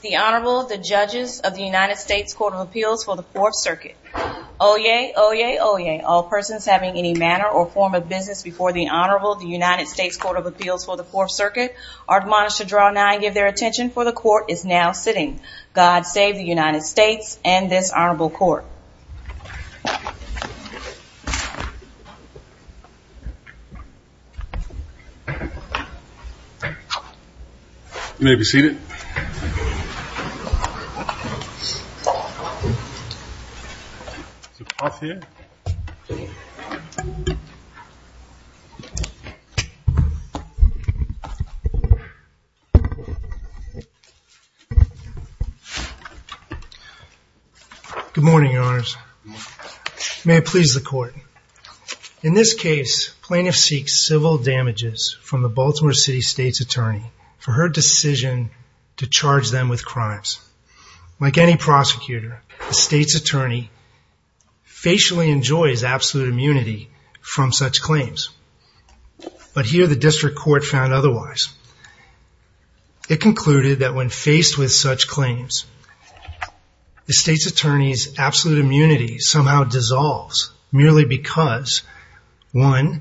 The Honorable, the Judges of the United States Court of Appeals for the Fourth Circuit. Oyez! Oyez! Oyez! All persons having any manner or form of business before the Honorable, the United States Court of Appeals for the Fourth Circuit, are admonished to draw nigh and give their attention, for the Court is now sitting. God save the United States and this Honorable Court. You may be seated. Good morning, Your Honors. May it please the Court. In this case, plaintiff seeks civil damages from the Baltimore City State's Attorney for her decision to charge them with crimes. Like any prosecutor, the State's Attorney facially enjoys absolute immunity from such claims. But here the District Court found otherwise. It concluded that when faced with such claims, the State's Attorney's absolute immunity somehow dissolves, merely because, one,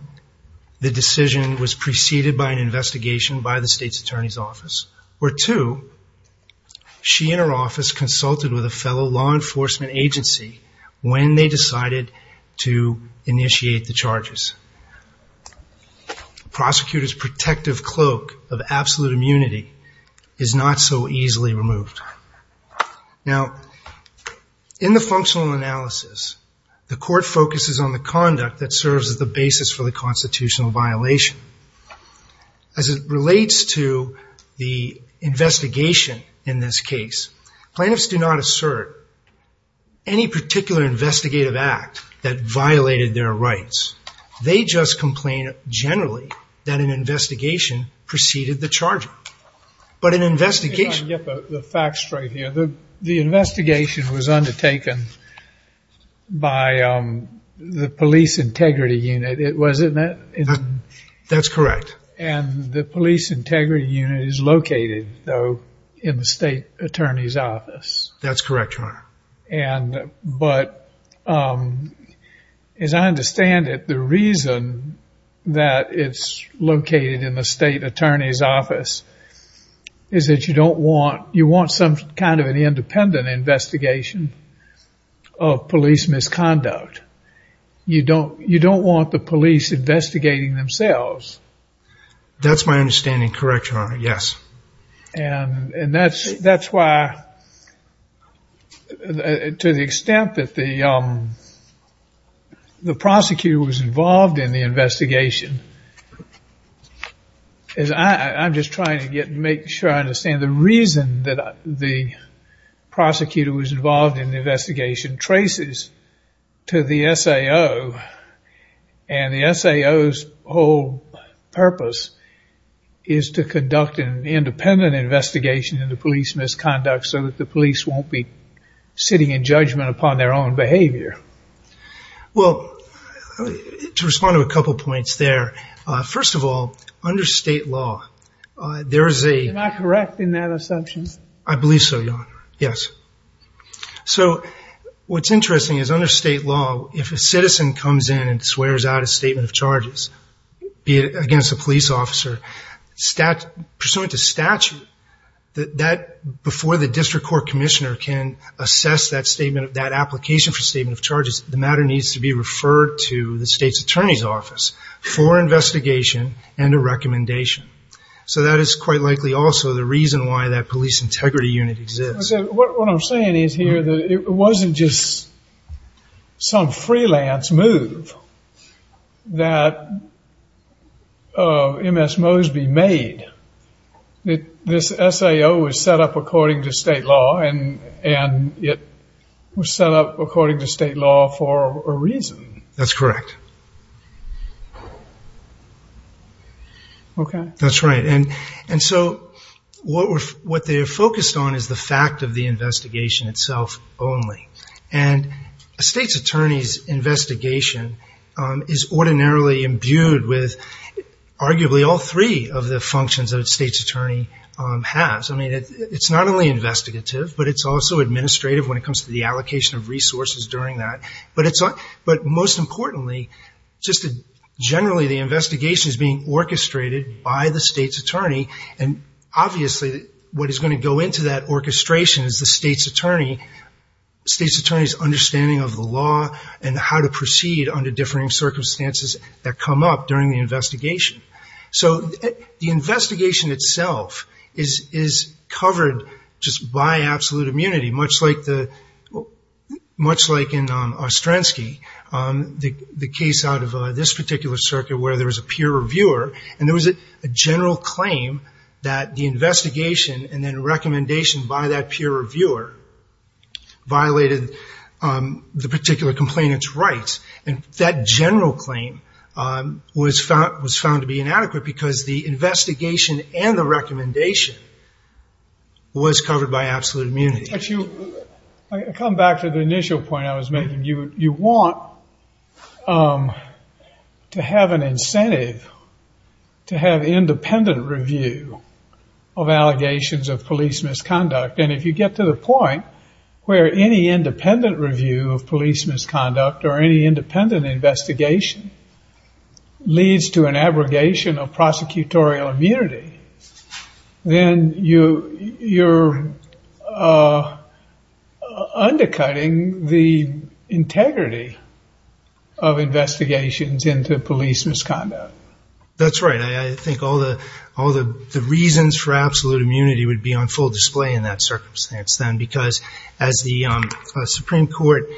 the decision was preceded by an investigation by the State's Attorney's office, or two, she and her office consulted with a fellow law enforcement agency when they decided to initiate the charges. Prosecutors' protective cloak of absolute immunity is not so easily removed. Now, in the functional analysis, the Court focuses on the conduct that serves as the basis for the constitutional violation. As it relates to the investigation in this case, plaintiffs do not assert any particular investigative act that violated their rights. They just complain generally that an investigation preceded the charging. But an investigation... Let me get the facts straight here. The investigation was undertaken by the Police Integrity Unit, wasn't it? That's correct. And the Police Integrity Unit is located, though, in the State's Attorney's office. That's correct, Your Honor. But, as I understand it, the reason that it's located in the State Attorney's office is that you want some kind of an independent investigation of police misconduct. You don't want the police investigating themselves. That's my understanding, correct, Your Honor, yes. And that's why, to the extent that the prosecutor was involved in the investigation, I'm just trying to make sure I understand. The reason that the prosecutor was involved in the investigation traces to the SAO, and the SAO's whole purpose is to conduct an independent investigation into police misconduct so that the police won't be sitting in judgment upon their own behavior. Well, to respond to a couple points there, first of all, under state law, there is a... Am I correct in that assumption? I believe so, Your Honor, yes. So what's interesting is under state law, if a citizen comes in and swears out a statement of charges, be it against a police officer, pursuant to statute, that before the district court commissioner can assess that statement, that application for statement of charges, the matter needs to be referred to the State's Attorney's office for investigation and a recommendation. So that is quite likely also the reason why that Police Integrity Unit exists. What I'm saying is here that it wasn't just some freelance move that M.S. Mosby made. This SAO was set up according to state law, and it was set up according to state law for a reason. That's correct. Okay. That's right. And so what they're focused on is the fact of the investigation itself only. And a State's Attorney's investigation is ordinarily imbued with arguably all three of the functions that a State's Attorney has. I mean, it's not only investigative, but it's also administrative when it comes to the allocation of resources during that. But most importantly, just generally the investigation is being orchestrated by the State's Attorney, and obviously what is going to go into that orchestration is the State's Attorney's understanding of the law and how to proceed under differing circumstances that come up during the investigation. So the investigation itself is covered just by absolute immunity, much like in Ostrensky, the case out of this particular circuit where there was a peer reviewer, and there was a general claim that the investigation and then recommendation by that peer reviewer violated the particular complainant's rights. And that general claim was found to be inadequate because the investigation and the recommendation was covered by absolute immunity. If you come back to the initial point I was making, you want to have an incentive to have independent review of allegations of police misconduct. And if you get to the point where any independent review of police misconduct or any independent investigation leads to an abrogation of prosecutorial immunity, then you're undercutting the integrity of investigations into police misconduct. That's right. I think all the reasons for absolute immunity would be on full display in that circumstance then because as the Supreme Court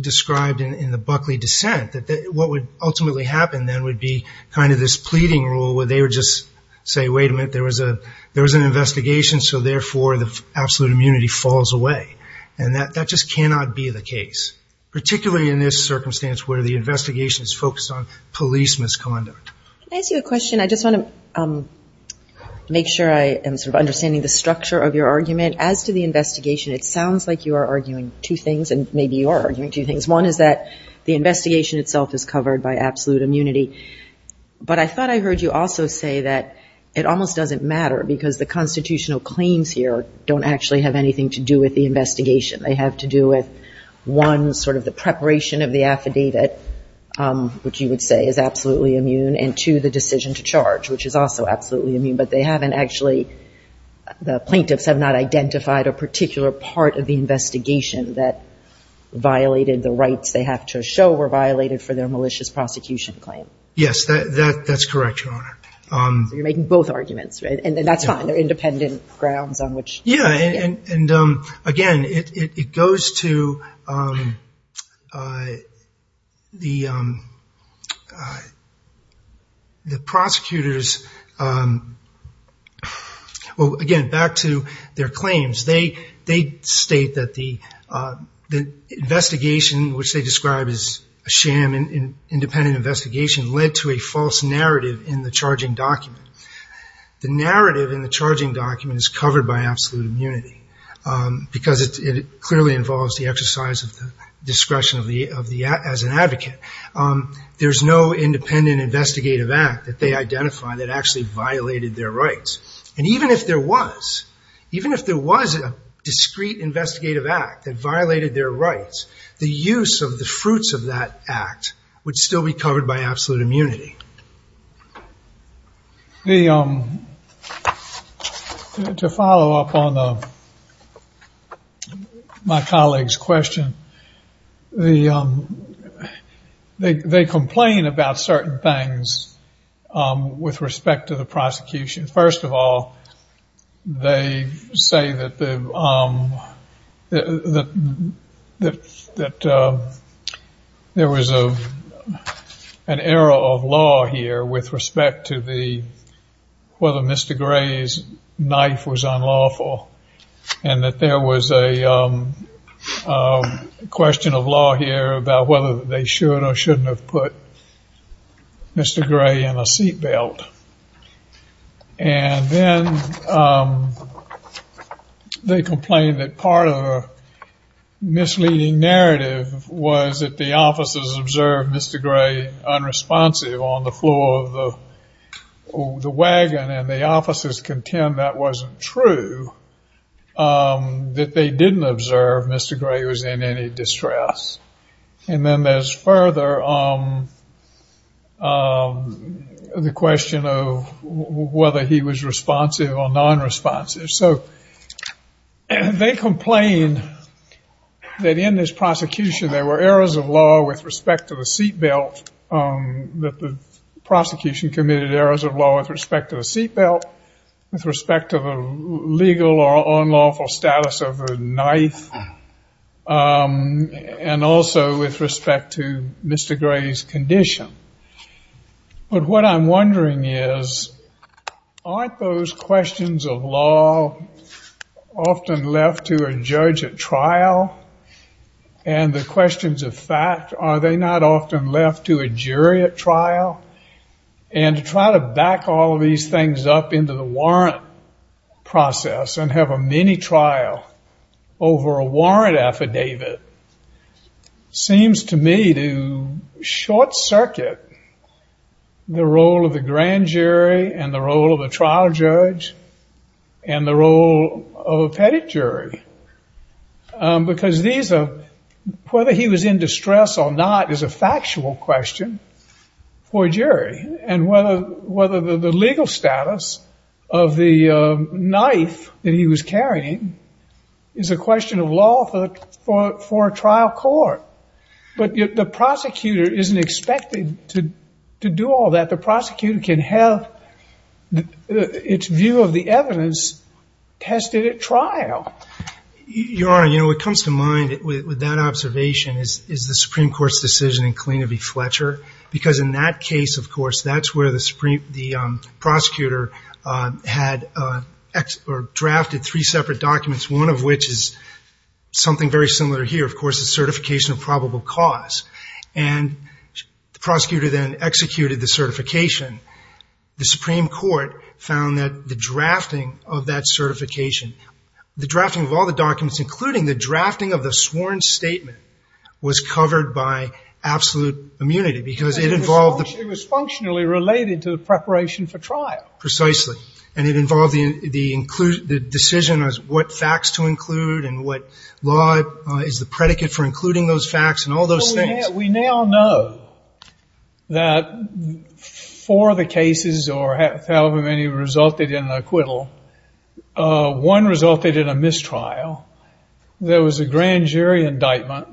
described in the Buckley dissent, what would ultimately happen then would be kind of this pleading rule where they would just say, wait a minute, there was an investigation, so therefore the absolute immunity falls away. And that just cannot be the case, particularly in this circumstance where the investigation is focused on police misconduct. Can I ask you a question? I just want to make sure I am sort of understanding the structure of your argument. As to the investigation, it sounds like you are arguing two things, and maybe you are arguing two things. One is that the investigation itself is covered by absolute immunity. But I thought I heard you also say that it almost doesn't matter because the constitutional claims here don't actually have anything to do with the investigation. They have to do with, one, sort of the preparation of the affidavit, which you would say is absolutely immune, and two, the decision to charge, which is also absolutely immune. But they haven't actually, the plaintiffs have not identified a particular part of the investigation that violated the rights they have to show were violated for their malicious prosecution claim. Yes, that's correct, Your Honor. So you're making both arguments, right? And that's fine. They're independent grounds on which. Yeah, and, again, it goes to the prosecutors, well, again, back to their claims. They state that the investigation, which they describe as a sham, an independent investigation led to a false narrative in the charging document. The narrative in the charging document is covered by absolute immunity because it clearly involves the exercise of the discretion as an advocate. There's no independent investigative act that they identify that actually violated their rights. And even if there was, even if there was a discrete investigative act that violated their rights, the use of the fruits of that act would still be covered by absolute immunity. To follow up on my colleague's question, they complain about certain things with respect to the prosecution. First of all, they say that there was an error of law here with respect to whether Mr. Gray's knife was unlawful and that there was a question of law here about whether they should or shouldn't have put Mr. Gray in a seat belt. And then they complained that part of a misleading narrative was that the officers observed Mr. Gray unresponsive on the floor of the wagon and the officers contend that wasn't true, that they didn't observe Mr. Gray was in any distress. And then there's further the question of whether he was responsive or non-responsive. So they complain that in this prosecution there were errors of law with respect to the seat belt, that the prosecution committed errors of law with respect to the seat belt, with respect to the legal or unlawful status of a knife, and also with respect to Mr. Gray's condition. But what I'm wondering is, aren't those questions of law often left to a judge at trial? And the questions of fact, are they not often left to a jury at trial? And to try to back all of these things up into the warrant process and have a mini-trial over a warrant affidavit seems to me to short circuit the role of the grand jury and the role of a trial judge and the role of a pettit jury. Because whether he was in distress or not is a factual question for a jury. And whether the legal status of the knife that he was carrying is a question of law for a trial court. But the prosecutor isn't expected to do all that. But the prosecutor can have its view of the evidence tested at trial. Your Honor, you know, what comes to mind with that observation is the Supreme Court's decision in Killeen v. Fletcher. Because in that case, of course, that's where the prosecutor had drafted three separate documents, one of which is something very similar here, of course, the certification of probable cause. And the prosecutor then executed the certification. The Supreme Court found that the drafting of that certification, the drafting of all the documents, including the drafting of the sworn statement, was covered by absolute immunity. Because it involved the… It was functionally related to the preparation for trial. Precisely. And it involved the decision as what facts to include and what law is the predicate for including those facts and all those things. Well, we now know that four of the cases or however many resulted in acquittal, one resulted in a mistrial. There was a grand jury indictment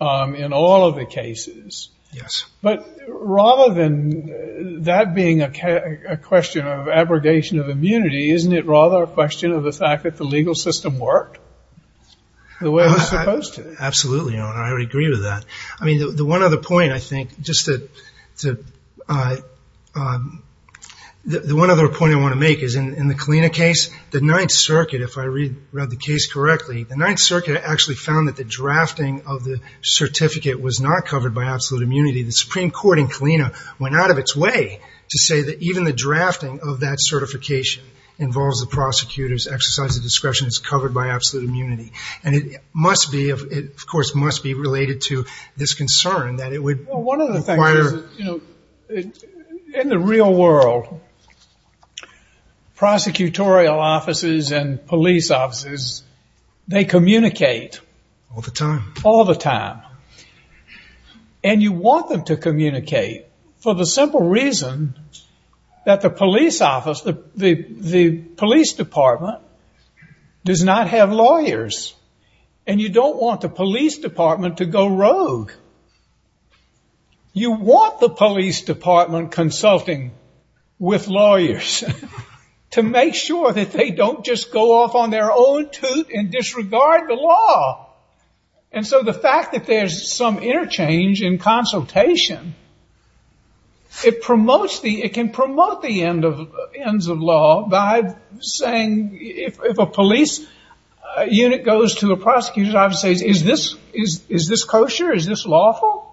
in all of the cases. Yes. But rather than that being a question of abrogation of immunity, isn't it rather a question of the fact that the legal system worked the way it was supposed to? Absolutely, Your Honor. I would agree with that. I mean, the one other point, I think, just to… The one other point I want to make is in the Kalina case, the Ninth Circuit, if I read the case correctly, the Ninth Circuit actually found that the drafting of the certificate was not covered by absolute immunity. The Supreme Court in Kalina went out of its way to say that even the drafting of that certification involves the prosecutor's exercise of discretion, it's covered by absolute immunity. And it must be, of course, must be related to this concern that it would require… Well, one of the things is, you know, in the real world, prosecutorial offices and police offices, they communicate. All the time. All the time. And you want them to communicate for the simple reason that the police office, the police department, does not have lawyers. And you don't want the police department to go rogue. You want the police department consulting with lawyers to make sure that they don't just go off on their own tooth and disregard the law. And so the fact that there's some interchange in consultation, it can promote the ends of law by saying, if a police unit goes to a prosecutor's office and says, is this kosher? Is this lawful?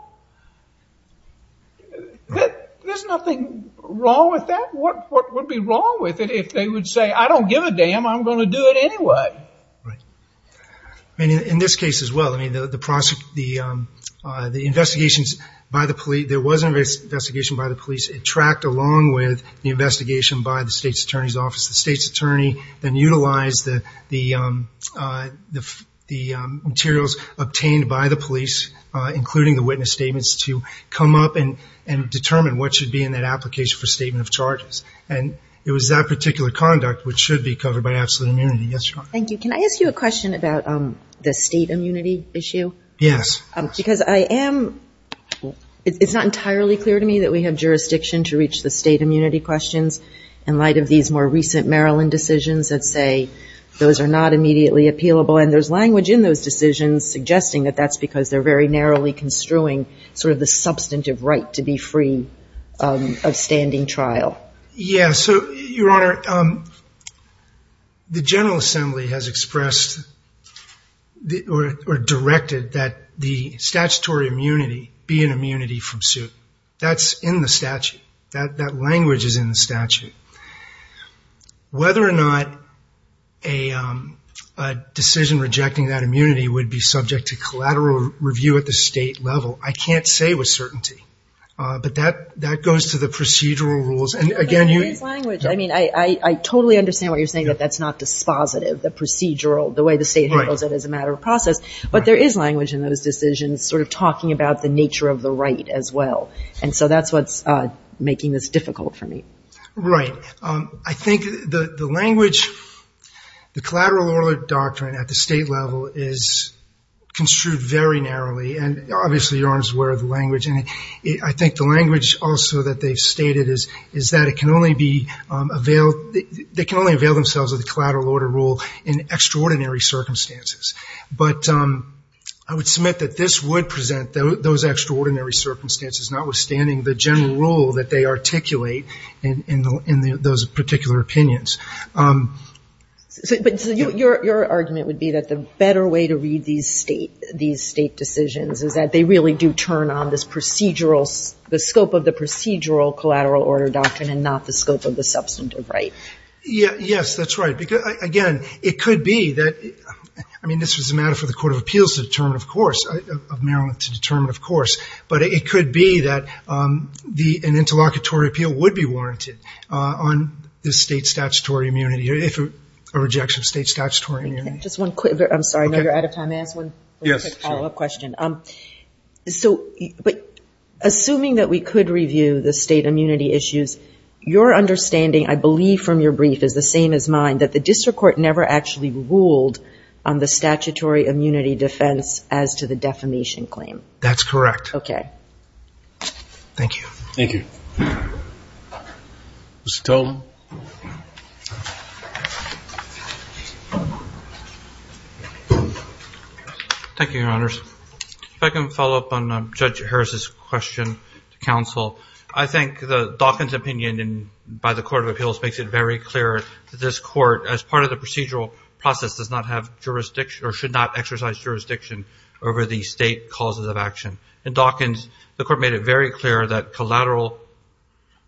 There's nothing wrong with that. What would be wrong with it if they would say, I don't give a damn, I'm going to do it anyway? In this case as well, the investigations by the police, there was an investigation by the police. It tracked along with the investigation by the state's attorney's office. The state's attorney then utilized the materials obtained by the police, including the witness statements, to come up and determine what should be in that application for statement of charges. And it was that particular conduct which should be covered by absolute immunity. Thank you. Can I ask you a question about the state immunity issue? Yes. Because I am, it's not entirely clear to me that we have jurisdiction to reach the state immunity questions in light of these more recent Maryland decisions that say those are not immediately appealable. And there's language in those decisions suggesting that that's because they're very narrowly construing sort of the substantive right to be free of standing trial. Yes. So, Your Honor, the General Assembly has expressed or directed that the statutory immunity be an immunity from suit. That's in the statute. That language is in the statute. Whether or not a decision rejecting that immunity would be subject to collateral review at the state level, I can't say with certainty. But that goes to the procedural rules. But there is language. I mean, I totally understand what you're saying, that that's not dispositive, the procedural, the way the state handles it as a matter of process. But there is language in those decisions sort of talking about the nature of the right as well. And so that's what's making this difficult for me. Right. I think the language, the collateral order doctrine at the state level is construed very narrowly. And obviously, Your Honor is aware of the language. And I think the language also that they've stated is that it can only be availed, they can only avail themselves of the collateral order rule in extraordinary circumstances. But I would submit that this would present those extraordinary circumstances, notwithstanding the general rule that they articulate in those particular opinions. But your argument would be that the better way to read these state decisions is that they really do turn on this procedural, the scope of the procedural collateral order doctrine and not the scope of the substantive right. Yes, that's right. Again, it could be that, I mean, this was a matter for the Court of Appeals to determine, of course, of Maryland to determine, of course. But it could be that an interlocutory appeal would be warranted on the state statutory immunity, if a rejection of state statutory immunity. Just one quick, I'm sorry, I know you're out of time. May I ask one quick follow-up question? Yes, sure. So assuming that we could review the state immunity issues, your understanding I believe from your brief is the same as mine, that the district court never actually ruled on the statutory immunity defense as to the defamation claim. That's correct. Okay. Thank you. Thank you. Mr. Totem. Thank you, Your Honors. If I can follow up on Judge Harris's question to counsel, I think the Dawkins opinion by the Court of Appeals makes it very clear that this court, as part of the procedural process, does not have jurisdiction or should not exercise jurisdiction over the state causes of action. In Dawkins, the Court made it very clear that collateral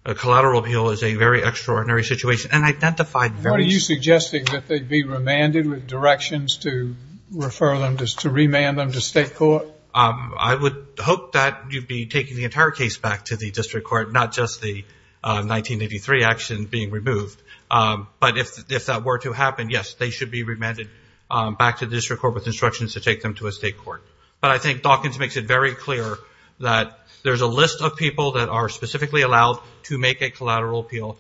appeal is a very extraordinary situation and identified very What are you suggesting, that they be remanded with directions to refer them, to remand them to state court? I would hope that you'd be taking the entire case back to the district court, not just the 1983 action being removed. But if that were to happen, yes, they should be remanded back to the district court with instructions to take them to a state court. But I think Dawkins makes it very clear that there's a list of people that are specifically allowed to make a collateral appeal.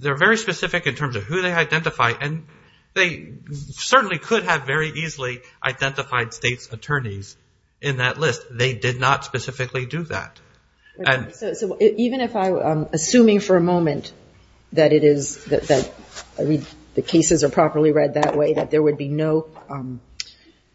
They're very specific in terms of who they identify, and they certainly could have very easily identified state's attorneys in that list. They did not specifically do that. Assuming for a moment that the cases are properly read that way, that there would be no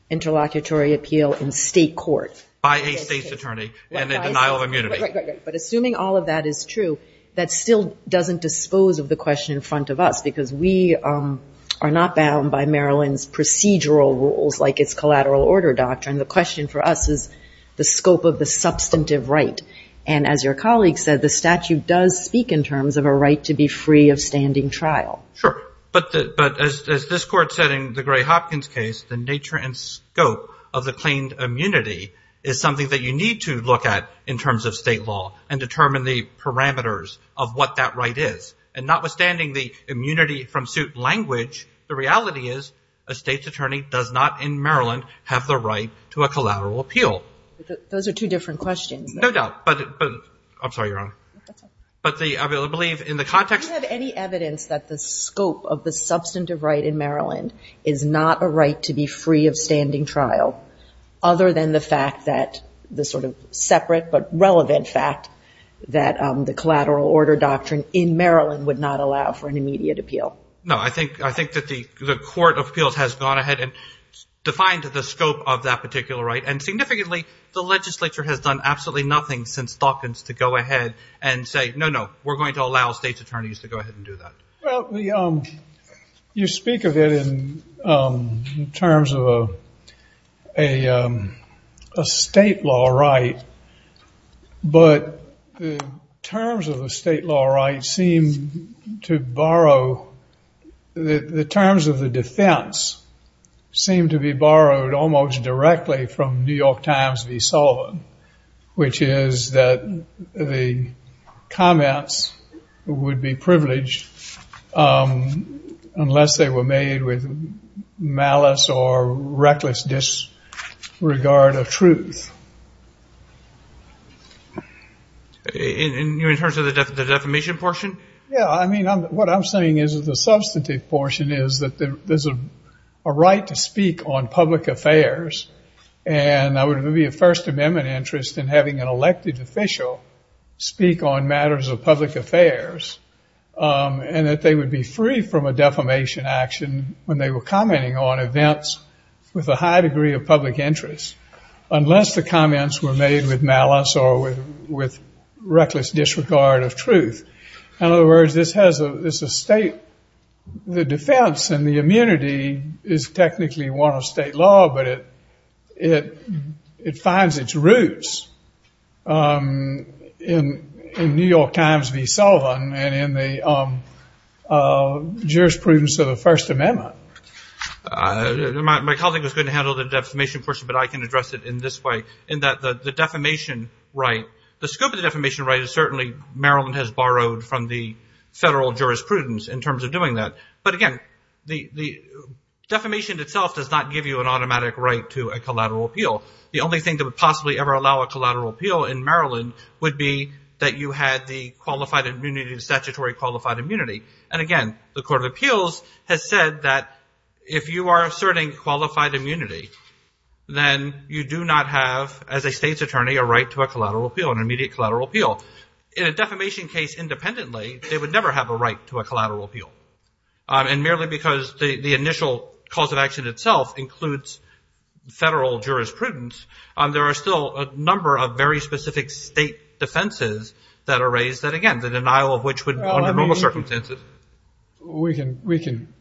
interlocutory appeal in state court. By a state's attorney and in denial of immunity. Right, right, right. But assuming all of that is true, that still doesn't dispose of the question in front of us, because we are not bound by Maryland's procedural rules like its collateral order doctrine. The question for us is the scope of the substantive right. And as your colleague said, the statute does speak in terms of a right to be free of standing trial. Sure. But as this court said in the Gray Hopkins case, the nature and scope of the claimed immunity is something that you need to look at in terms of state law and determine the parameters of what that right is. And notwithstanding the immunity from suit language, the reality is a state's attorney does not in Maryland have the right to a collateral appeal. Those are two different questions. No doubt. But I'm sorry, Your Honor. That's all right. But I believe in the context of the- Do you have any evidence that the scope of the substantive right in Maryland is not a right to be free of standing trial, other than the fact that the sort of separate but relevant fact that the collateral order doctrine in Maryland would not allow for an immediate appeal? No. I think that the court of appeals has gone ahead and defined the scope of that particular right, and significantly the legislature has done absolutely nothing since Hopkins to go ahead and say, no, no, we're going to allow state's attorneys to go ahead and do that. Well, you speak of it in terms of a state law right, but the terms of the state law right seem to borrow- the terms of the defense seem to be borrowed almost directly from New York Times v. Sullivan, which is that the comments would be privileged unless they were made with malice or reckless disregard of truth. In terms of the defamation portion? Yeah. I mean, what I'm saying is the substantive portion is that there's a right to speak on public affairs, and there would be a First Amendment interest in having an elected official speak on matters of public affairs, and that they would be free from a defamation action when they were commenting on events with a high degree of public interest, unless the comments were made with malice or with reckless disregard of truth. In other words, the defense and the immunity is technically one of state law, but it finds its roots in New York Times v. Sullivan and in the jurisprudence of the First Amendment. My colleague was going to handle the defamation portion, but I can address it in this way, in that the defamation right, the scope of the defamation right is certainly, Maryland has borrowed from the federal jurisprudence in terms of doing that. But again, the defamation itself does not give you an automatic right to a collateral appeal. The only thing that would possibly ever allow a collateral appeal in Maryland would be that you had the qualified immunity, the statutory qualified immunity. And again, the Court of Appeals has said that if you are asserting qualified immunity, then you do not have, as a state's attorney, a right to a collateral appeal, an immediate collateral appeal. In a defamation case independently, they would never have a right to a collateral appeal. And merely because the initial cause of action itself includes federal jurisprudence, there are still a number of very specific state defenses that are raised that, again, the denial of which would be under normal circumstances. We can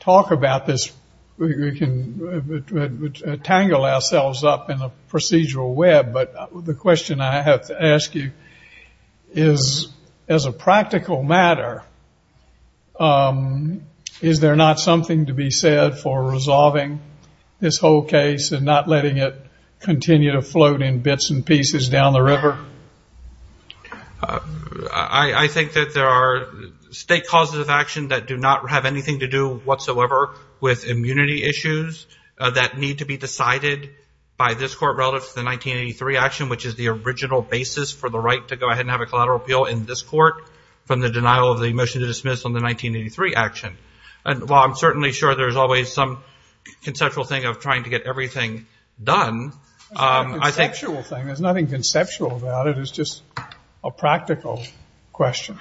talk about this, we can tangle ourselves up in a procedural web, but the question I have to ask you is, as a practical matter, is there not something to be said for resolving this whole case and not letting it continue to float in bits and pieces down the river? I think that there are state causes of action that do not have anything to do whatsoever with immunity issues that need to be decided by this court relative to the 1983 action, which is the original basis for the right to go ahead and have a collateral appeal in this court from the denial of the motion to dismiss on the 1983 action. And while I'm certainly sure there's always some conceptual thing of trying to get everything done, I think... It's just a practical question.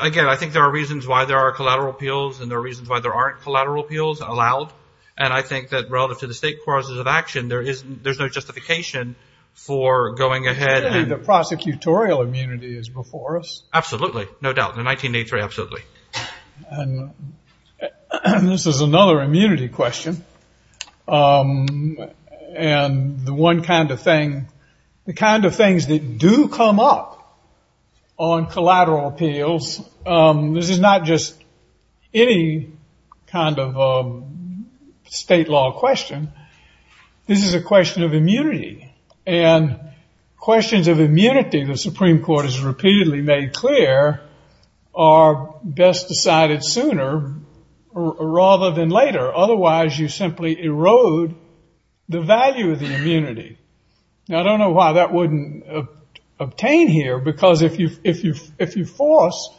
Again, I think there are reasons why there are collateral appeals and there are reasons why there aren't collateral appeals allowed. And I think that relative to the state causes of action, there's no justification for going ahead and... The prosecutorial immunity is before us. Absolutely, no doubt. In 1983, absolutely. And this is another immunity question. And the one kind of thing... The kind of things that do come up on collateral appeals... This is not just any kind of state law question. This is a question of immunity. And questions of immunity, the Supreme Court has repeatedly made clear, are best decided sooner rather than later. Otherwise, you simply erode the value of the immunity. Now, I don't know why that wouldn't obtain here, because if you force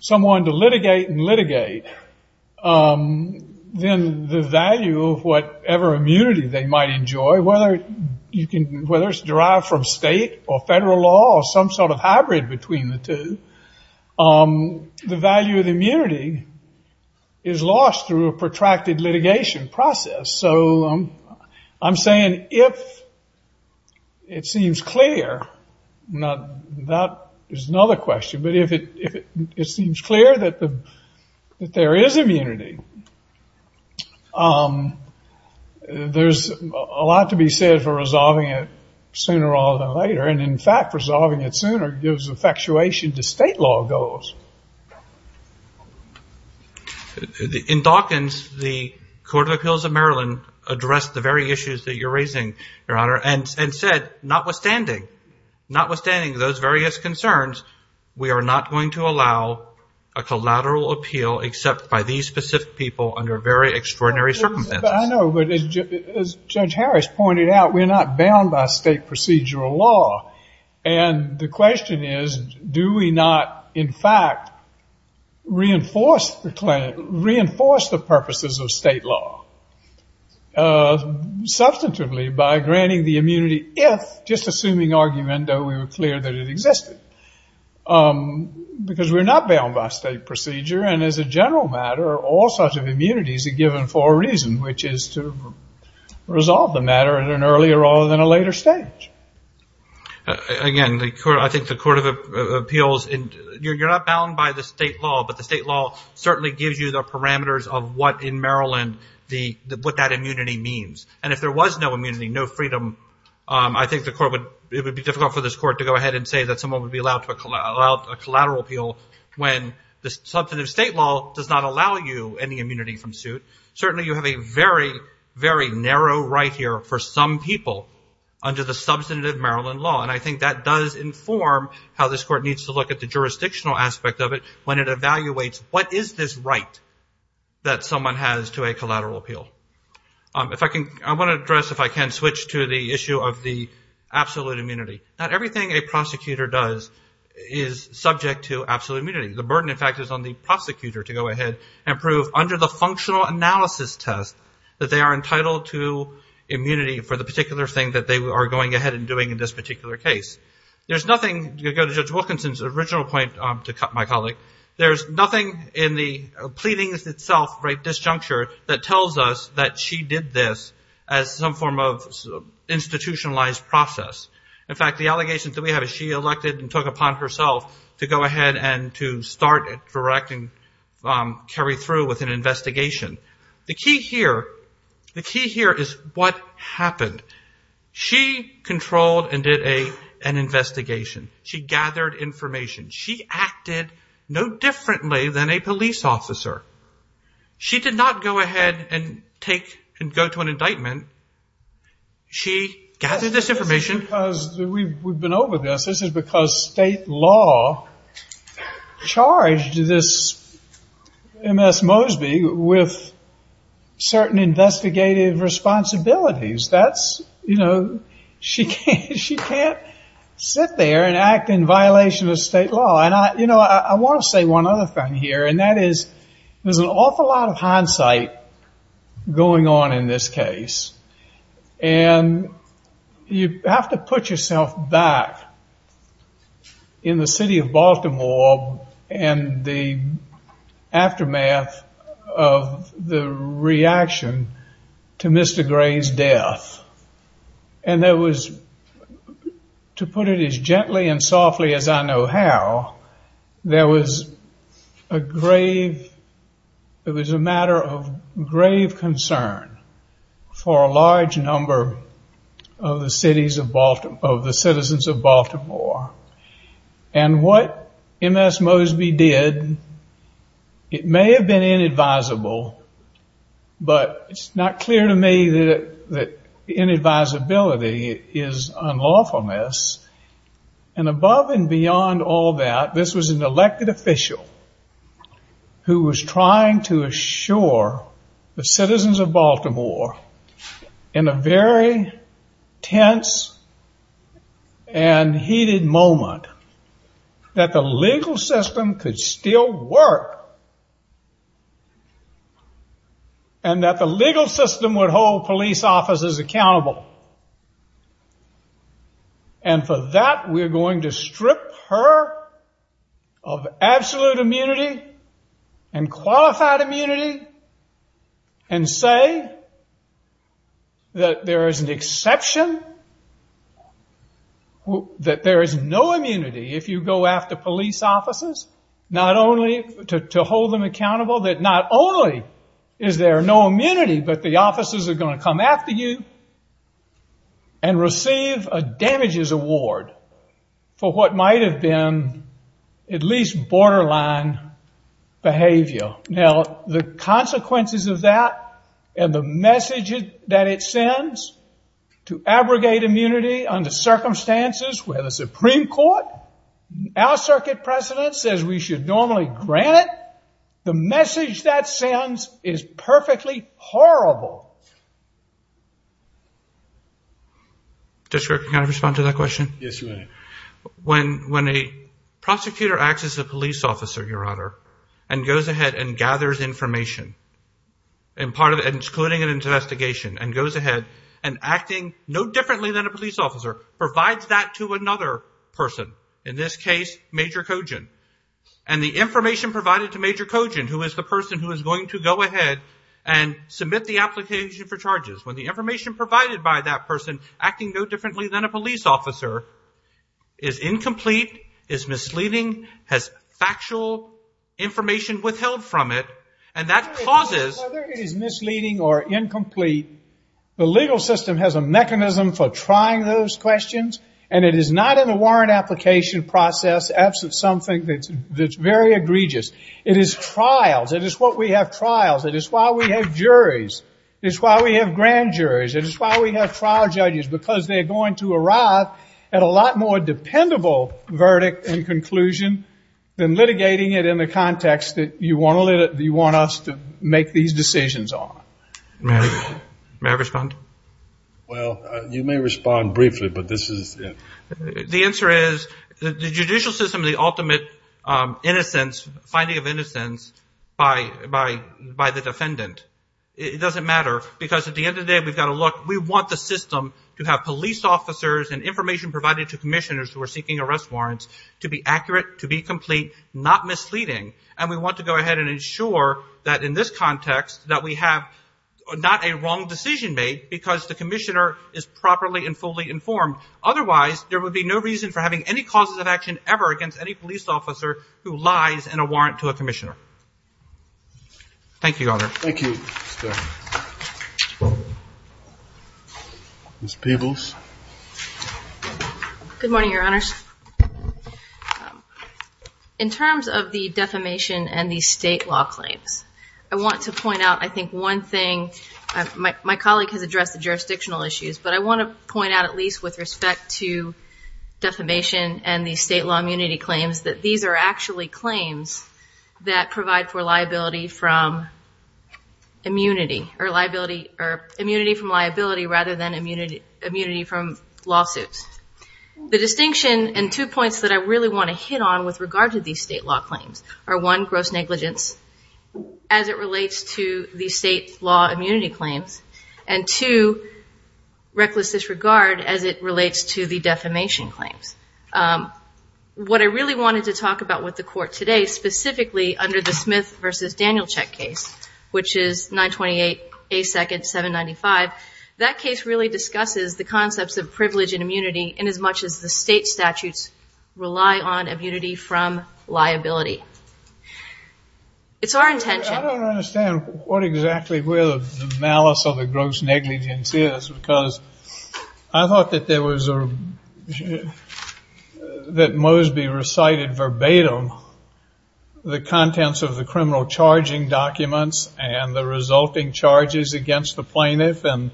someone to litigate and litigate, then the value of whatever immunity they might enjoy, whether it's derived from state or federal law or some sort of hybrid between the two, the value of the immunity is lost through a protracted litigation process. So I'm saying if it seems clear... That is another question. But if it seems clear that there is immunity, there's a lot to be said for resolving it sooner rather than later. And in fact, resolving it sooner gives effectuation to state law goals. In Dawkins, the Court of Appeals of Maryland addressed the very issues that you're raising, Your Honor, and said, notwithstanding, notwithstanding those various concerns, we are not going to allow a collateral appeal except by these specific people under very extraordinary circumstances. I know, but as Judge Harris pointed out, we're not bound by state procedural law. And the question is, do we not, in fact, reinforce the purposes of state law? Substantively, by granting the immunity if, just assuming argument, though we were clear that it existed. Because we're not bound by state procedure, and as a general matter, all sorts of immunities are given for a reason, which is to resolve the matter at an earlier rather than a later stage. Again, I think the Court of Appeals, you're not bound by the state law, but the state law certainly gives you the parameters of what, in Maryland, what that immunity means. And if there was no immunity, no freedom, I think it would be difficult for this Court to go ahead and say that someone would be allowed a collateral appeal when the substantive state law does not allow you any immunity from suit. Certainly, you have a very, very narrow right here for some people under the substantive Maryland law. And I think that does inform how this court needs to look at the jurisdictional aspect of it when it evaluates, what is this right that someone has to a collateral appeal? If I can, I want to address, if I can, switch to the issue of the absolute immunity. Not everything a prosecutor does is subject to absolute immunity. The burden, in fact, is on the prosecutor to go ahead and prove, under the functional analysis test, that they are entitled to immunity for the particular thing that they are going ahead and doing in this particular case. There's nothing, you go to Judge Wilkinson's original point, my colleague, there's nothing in the pleadings itself, right, disjuncture, that tells us that she did this as some form of institutionalized process. In fact, the allegations that we have is she elected and took upon herself to go ahead and to start and direct and carry through with an investigation. The key here, the key here is what happened. She controlled and did an investigation. She gathered information. She acted no differently than a police officer. She did not go ahead and take and go to an indictment. She gathered this information. We've been over this. This is because state law charged this Ms. Mosby with certain investigative responsibilities. That's, you know, she can't sit there and act in violation of state law. You know, I want to say one other thing here, and that is there's an awful lot of hindsight going on in this case. And you have to put yourself back in the city of Baltimore and the aftermath of the reaction to Mr. Gray's death. And there was, to put it as gently and softly as I know how, there was a grave, it was a matter of grave concern for a large number of the citizens of Baltimore. And what Ms. Mosby did, it may have been inadvisable, but it's not clear to me that inadvisability is unlawfulness. And above and beyond all that, this was an elected official who was trying to assure the citizens of Baltimore in a very tense and heated moment that the legal system could still work and that the legal system would hold police officers accountable. And for that, we're going to strip her of absolute immunity and qualified immunity and say that there is an exception, that there is no immunity if you go after police officers, not only to hold them accountable, that not only is there no immunity, but the officers are going to come after you and receive a damages award for what might have been at least borderline behavior. Now, the consequences of that and the message that it sends to abrogate immunity under circumstances where the Supreme Court, our circuit president, says we should normally grant it, the message that sends is perfectly horrible. District, can I respond to that question? Yes, you may. When a prosecutor acts as a police officer, Your Honor, and goes ahead and gathers information, including an investigation, and goes ahead and acting no differently than a police officer, provides that to another person, in this case, Major Cojan, and the information provided to Major Cojan, who is the person who is going to go ahead and submit the application for charges, when the information provided by that person, acting no differently than a police officer, is incomplete, is misleading, has factual information withheld from it, and that causes... Whether it is misleading or incomplete, the legal system has a mechanism for trying those questions, and it is not in the warrant application process. That's something that's very egregious. It is trials. It is why we have trials. It is why we have juries. It is why we have grand juries. It is why we have trial judges, because they are going to arrive at a lot more dependable verdict and conclusion than litigating it in the context that you want us to make these decisions on. May I respond? Well, you may respond briefly, but this is... The answer is the judicial system is the ultimate innocence, finding of innocence, by the defendant. It doesn't matter, because at the end of the day, we've got to look. We want the system to have police officers and information provided to commissioners who are seeking arrest warrants to be accurate, to be complete, not misleading, and we want to go ahead and ensure that, in this context, that we have not a wrong decision made because the commissioner is properly and fully informed. Otherwise, there would be no reason for having any causes of action ever against any police officer who lies in a warrant to a commissioner. Thank you, Your Honor. Thank you, Mr. Starr. Ms. Peebles. Good morning, Your Honors. In terms of the defamation and the state law claims, I want to point out, I think, one thing. My colleague has addressed the jurisdictional issues, but I want to point out at least with respect to defamation and the state law immunity claims that these are actually claims that provide for liability from immunity, or immunity from liability rather than immunity from lawsuits. The distinction and two points that I really want to hit on with regard to these state law claims are, one, gross negligence as it relates to the state law immunity claims, and, two, reckless disregard as it relates to the defamation claims. What I really wanted to talk about with the Court today, specifically under the Smith v. Danielcheck case, which is 928A2-795, that case really discusses the concepts of privilege and immunity inasmuch as the state statutes rely on immunity from liability. It's our intention. I don't understand what exactly where the malice or the gross negligence is, because I thought that there was a, that Mosby recited verbatim the contents of the criminal charging documents and the resulting charges against the plaintiff, and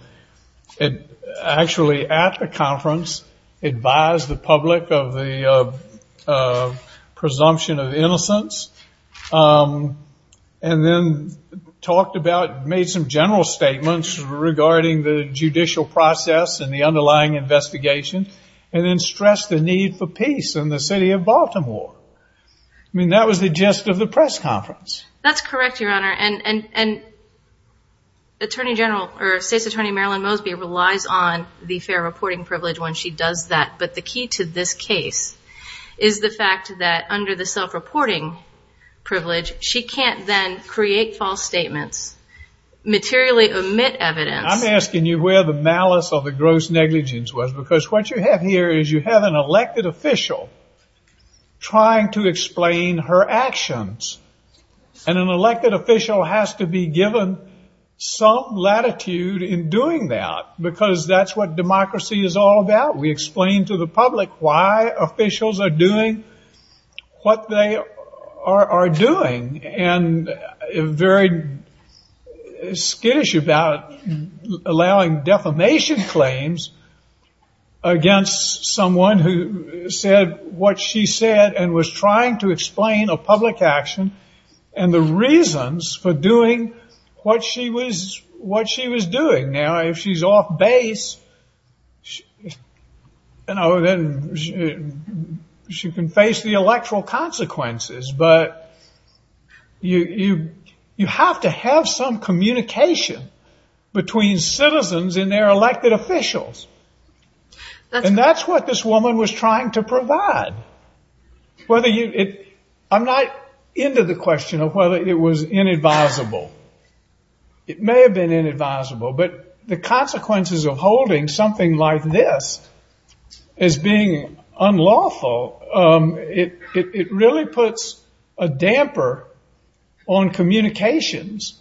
actually at the conference advised the public of the presumption of innocence, and then talked about, made some general statements regarding the judicial process and the underlying investigation, and then stressed the need for peace in the city of Baltimore. I mean, that was the gist of the press conference. That's correct, Your Honor, and Attorney General, or State's Attorney Marilyn Mosby, relies on the fair reporting privilege when she does that, but the key to this case is the fact that under the self-reporting privilege, she can't then create false statements, materially omit evidence. I'm asking you where the malice or the gross negligence was, because what you have here is you have an elected official trying to explain her actions, and an elected official has to be given some latitude in doing that, because that's what democracy is all about. We explain to the public why officials are doing what they are doing, and very skittish about allowing defamation claims against someone who said what she said and was trying to explain a public action and the reasons for doing what she was doing. Now, if she's off base, you know, then she can face the electoral consequences, but you have to have some communication between citizens and their elected officials, and that's what this woman was trying to provide. I'm not into the question of whether it was inadvisable. It may have been inadvisable, but the consequences of holding something like this as being unlawful, it really puts a damper on communications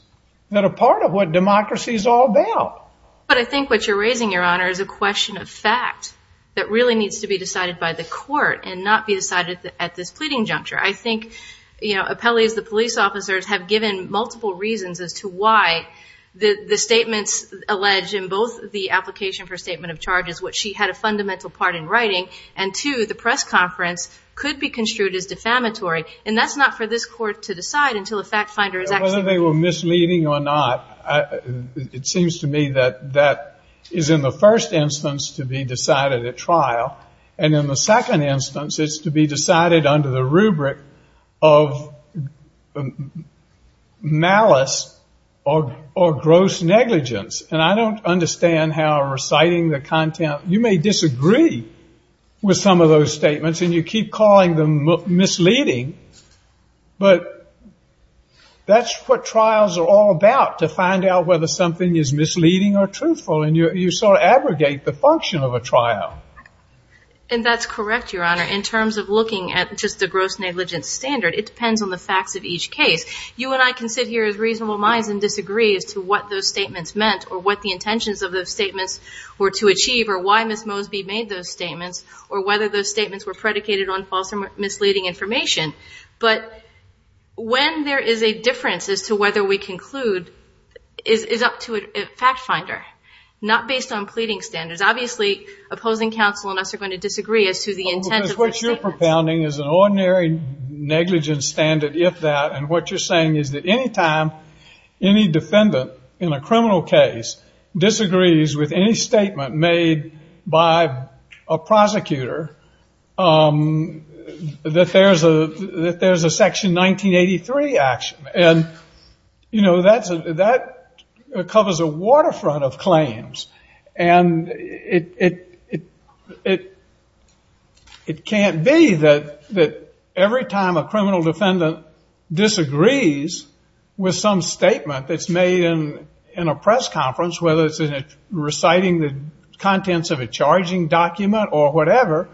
that are part of what democracy is all about. But I think what you're raising, Your Honor, is a question of fact that really needs to be decided by the court and not be decided at this pleading juncture. I think appellees, the police officers, have given multiple reasons as to why the statements alleged in both the application for statement of charges, which she had a fundamental part in writing, and, two, the press conference, could be construed as defamatory, and that's not for this court to decide until a fact finder is active. Whether they were misleading or not, it seems to me that that is in the first instance to be decided at trial, and in the second instance it's to be decided under the rubric of malice or gross negligence. And I don't understand how reciting the content, you may disagree with some of those statements and you keep calling them misleading, but that's what trials are all about, to find out whether something is misleading or truthful, and you sort of abrogate the function of a trial. And that's correct, Your Honor. In terms of looking at just the gross negligence standard, it depends on the facts of each case. You and I can sit here as reasonable minds and disagree as to what those statements meant or what the intentions of those statements were to achieve or why Ms. Mosby made those statements or whether those statements were predicated on false or misleading information. But when there is a difference as to whether we conclude is up to a fact finder, not based on pleading standards. Obviously, opposing counsel and us are going to disagree as to the intent of those statements. I think compounding is an ordinary negligence standard, if that, and what you're saying is that any time any defendant in a criminal case disagrees with any statement made by a prosecutor, that there's a Section 1983 action. And, you know, that covers a waterfront of claims. And it can't be that every time a criminal defendant disagrees with some statement that's made in a press conference, whether it's in reciting the contents of a charging document or whatever,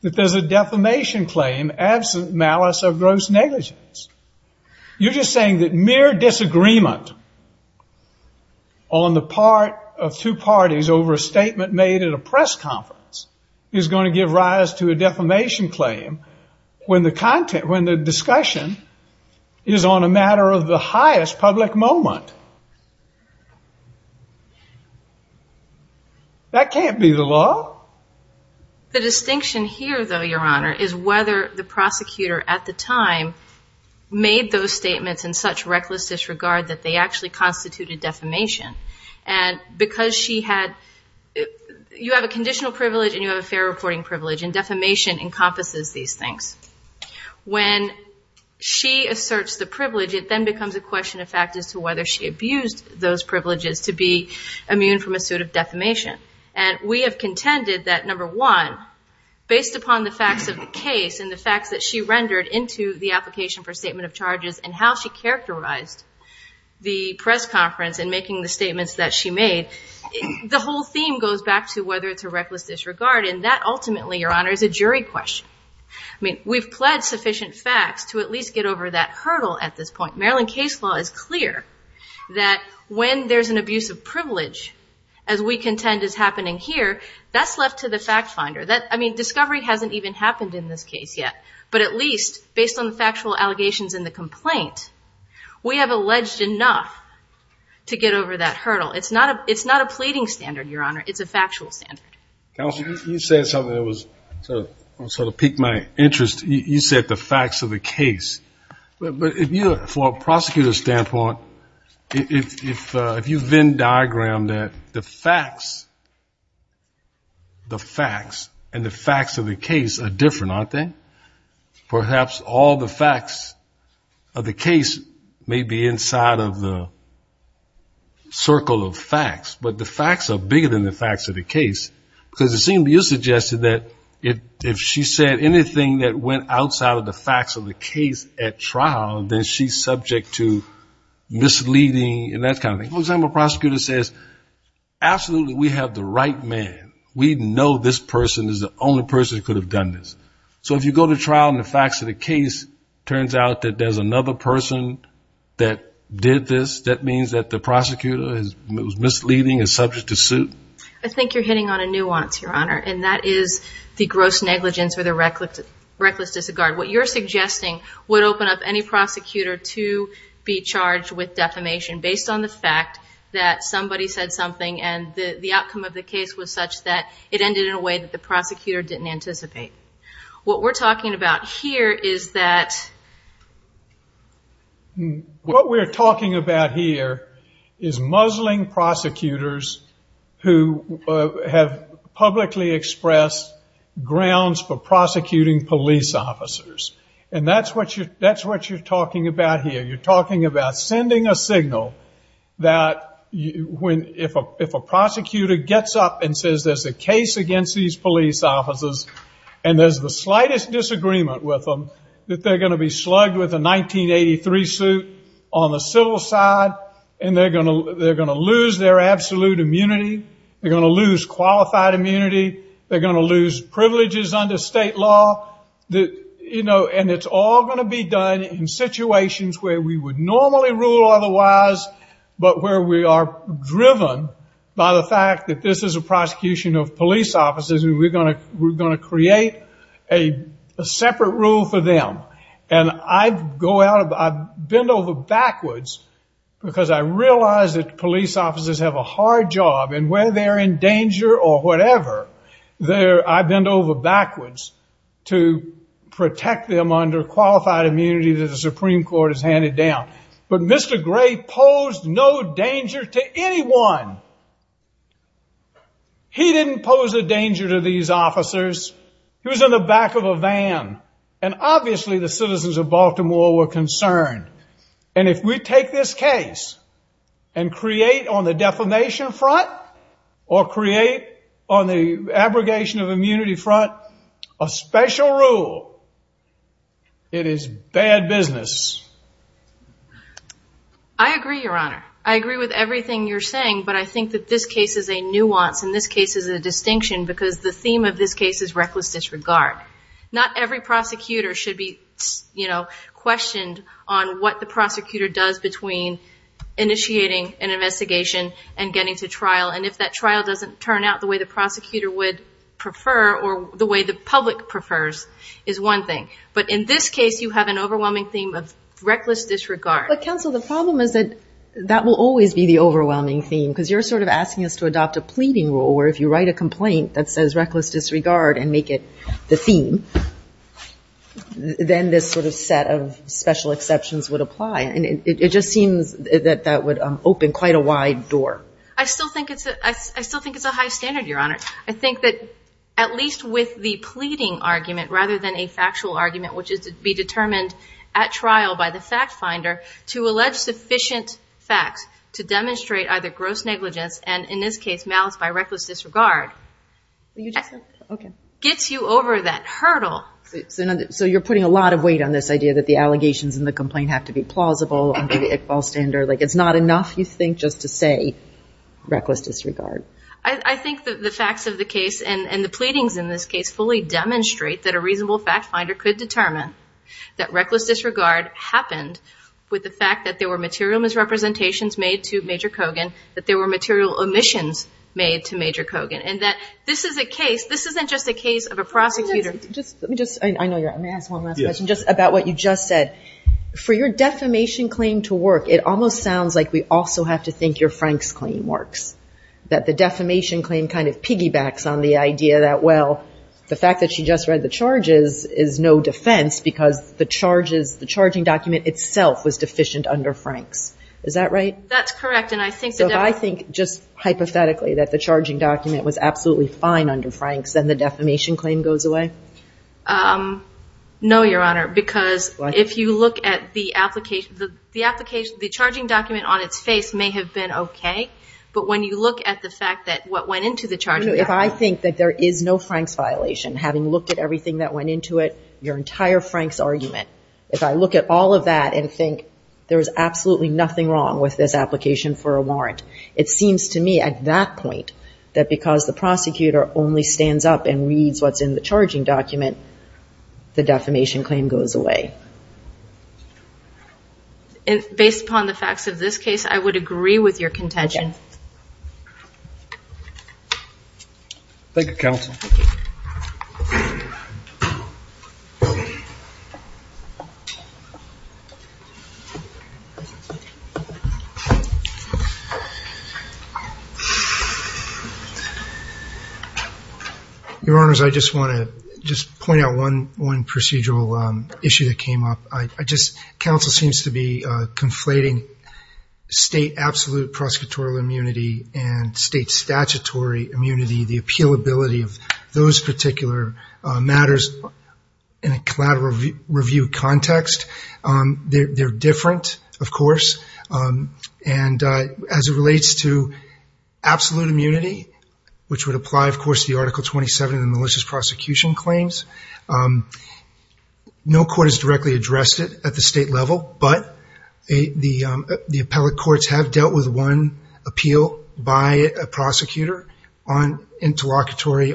that there's a defamation claim absent malice of gross negligence. You're just saying that mere disagreement on the part of two parties over a statement made in a press conference is going to give rise to a defamation claim when the discussion is on a matter of the highest public moment. That can't be the law. The distinction here, though, Your Honor, is whether the prosecutor at the time made those statements in such reckless disregard that they actually constituted defamation. And because she had, you have a conditional privilege and you have a fair reporting privilege, and defamation encompasses these things. When she asserts the privilege, it then becomes a question of fact as to whether she abused those privileges to be immune from a suit of defamation. And we have contended that, number one, based upon the facts of the case and the facts that she rendered into the application for statement of charges and how she characterized the press conference in making the statements that she made, the whole theme goes back to whether it's a reckless disregard. And that ultimately, Your Honor, is a jury question. I mean, we've pled sufficient facts to at least get over that hurdle at this point. Maryland case law is clear that when there's an abuse of privilege, as we contend is happening here, that's left to the fact finder. I mean, discovery hasn't even happened in this case yet. But at least, based on the factual allegations in the complaint, we have alleged enough to get over that hurdle. It's not a pleading standard, Your Honor. It's a factual standard. Counsel, you said something that was sort of piqued my interest. You said the facts of the case. But if you, from a prosecutor's standpoint, if you then diagram that the facts, the facts, and the facts of the case are different, aren't they? Perhaps all the facts of the case may be inside of the circle of facts, but the facts are bigger than the facts of the case. Because it seemed to you suggested that if she said anything that went outside of the facts of the case at trial, then she's subject to misleading and that kind of thing. For example, a prosecutor says, absolutely, we have the right man. We know this person is the only person who could have done this. So if you go to trial and the facts of the case turns out that there's another person that did this, that means that the prosecutor is misleading, is subject to suit? I think you're hitting on a nuance, Your Honor, and that is the gross negligence or the reckless disregard. What you're suggesting would open up any prosecutor to be charged with defamation based on the fact that somebody said something and the outcome of the case was such that it ended in a way that the prosecutor didn't anticipate. What we're talking about here is that... have publicly expressed grounds for prosecuting police officers. And that's what you're talking about here. You're talking about sending a signal that if a prosecutor gets up and says there's a case against these police officers and there's the slightest disagreement with them, that they're going to be slugged with a 1983 suit on the civil side and they're going to lose their absolute immunity. They're going to lose qualified immunity. They're going to lose privileges under state law. And it's all going to be done in situations where we would normally rule otherwise, but where we are driven by the fact that this is a prosecution of police officers and we're going to create a separate rule for them. And I bend over backwards because I realize that police officers have a hard job and when they're in danger or whatever, I bend over backwards to protect them under qualified immunity that the Supreme Court has handed down. But Mr. Gray posed no danger to anyone. He didn't pose a danger to these officers. He was in the back of a van. And obviously the citizens of Baltimore were concerned. And if we take this case and create on the defamation front or create on the abrogation of immunity front a special rule, it is bad business. I agree, Your Honor. I agree with everything you're saying, but I think that this case is a nuance and this case is a distinction because the theme of this case is reckless disregard. Not every prosecutor should be, you know, questioned on what the prosecutor does between initiating an investigation and getting to trial. And if that trial doesn't turn out the way the prosecutor would prefer or the way the public prefers is one thing. But in this case you have an overwhelming theme of reckless disregard. But, counsel, the problem is that that will always be the overwhelming theme because you're sort of asking us to adopt a pleading rule where if you write a complaint that says reckless disregard and make it the theme, then this sort of set of special exceptions would apply. And it just seems that that would open quite a wide door. I still think it's a high standard, Your Honor. I think that at least with the pleading argument rather than a factual argument, which is to be determined at trial by the fact finder, to allege sufficient facts to demonstrate either gross negligence and in this case malice by reckless disregard gets you over that hurdle. So you're putting a lot of weight on this idea that the allegations in the complaint have to be plausible and be the Iqbal standard. Like it's not enough, you think, just to say reckless disregard. I think the facts of the case and the pleadings in this case fully demonstrate that a reasonable fact finder could determine that reckless disregard happened with the fact that there were material misrepresentations made to Major Kogan, that there were material omissions made to Major Kogan, and that this is a case, this isn't just a case of a prosecutor. Let me just, I know you're out. May I ask one last question just about what you just said? For your defamation claim to work, it almost sounds like we also have to think your Franks claim works, that the defamation claim kind of piggybacks on the idea that, well, the fact that she just read the charges is no defense because the charges, the charging document itself was deficient under Franks. Is that right? That's correct. So if I think just hypothetically that the charging document was absolutely fine under Franks, then the defamation claim goes away? No, Your Honor, because if you look at the application, the charging document on its face may have been okay, but when you look at the fact that what went into the charging document. If I think that there is no Franks violation, having looked at everything that went into it, your entire Franks argument, if I look at all of that and think there is absolutely nothing wrong with this application for a warrant, it seems to me at that point, that because the prosecutor only stands up and reads what's in the charging document, the defamation claim goes away. Based upon the facts of this case, I would agree with your contention. Thank you, counsel. Your Honors, I just want to point out one procedural issue that came up. Counsel seems to be conflating state absolute prosecutorial immunity and state statutory immunity, the appealability of those particular matters in a collateral review context. They're different, of course, and as it relates to absolute immunity, which would apply, of course, to the Article 27 in the malicious prosecution claims, no court has directly addressed it at the state level, but the appellate courts have dealt with one appeal by a prosecutor on an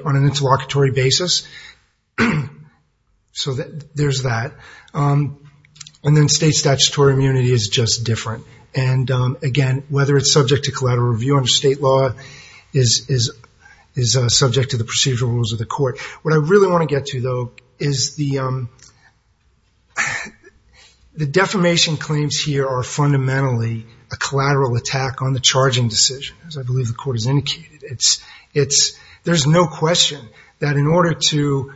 interlocutory basis. There's that. Then state statutory immunity is just different. Again, whether it's subject to collateral review under state law is subject to the procedural rules of the court. What I really want to get to, though, is the defamation claims here are fundamentally a collateral attack on the charging decision, as I believe the court has indicated. There's no question that in order to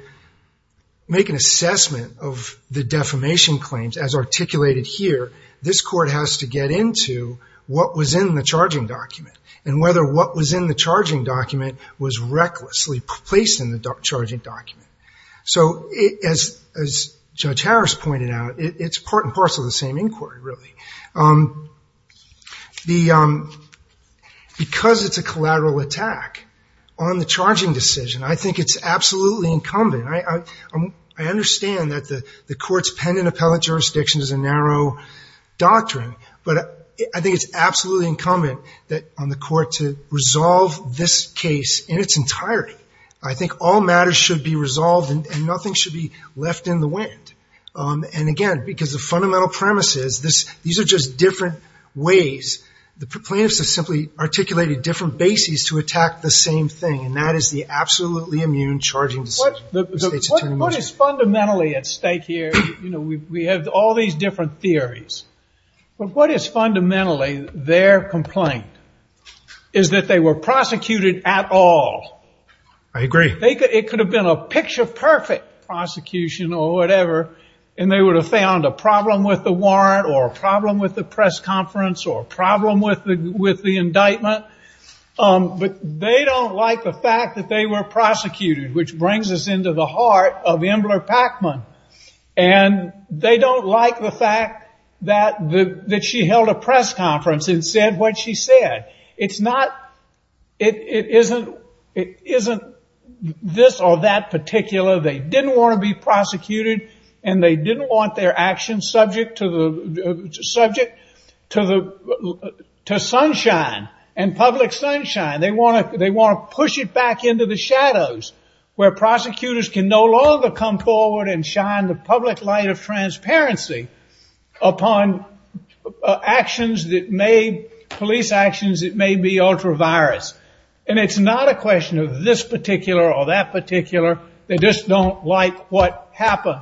make an assessment of the defamation claims, as articulated here, this court has to get into what was in the charging document and whether what was in the charging document was in the charging document. So as Judge Harris pointed out, it's part and parcel of the same inquiry, really. Because it's a collateral attack on the charging decision, I think it's absolutely incumbent. I understand that the court's pen and appellate jurisdiction is a narrow doctrine, but I think it's absolutely incumbent on the court to resolve this case in its entirety. I think all matters should be resolved and nothing should be left in the wind. And, again, because the fundamental premise is these are just different ways. The plaintiffs have simply articulated different bases to attack the same thing, and that is the absolutely immune charging decision. What is fundamentally at stake here, we have all these different theories, but what is fundamentally their complaint is that they were prosecuted at all. I agree. It could have been a picture-perfect prosecution or whatever, and they would have found a problem with the warrant or a problem with the press conference or a problem with the indictment. But they don't like the fact that they were prosecuted, which brings us into the heart of Embler-Packman. And they don't like the fact that she held a press conference and said what she said. It isn't this or that particular. They didn't want to be prosecuted, and they didn't want their actions subject to sunshine and public sunshine. They want to push it back into the shadows, where prosecutors can no longer come forward and shout at them. They want to shine the public light of transparency upon police actions that may be ultra-virus. And it's not a question of this particular or that particular. They just don't like what happened.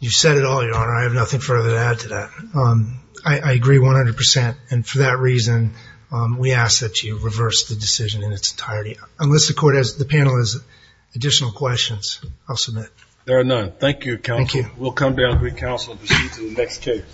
You said it all, Your Honor. I have nothing further to add to that. I agree 100%. And for that reason, we ask that you reverse the decision in its entirety. Unless the panel has additional questions. I'll submit. There are none. Thank you, counsel. Thank you. We'll come back with counsel to speak to the next case.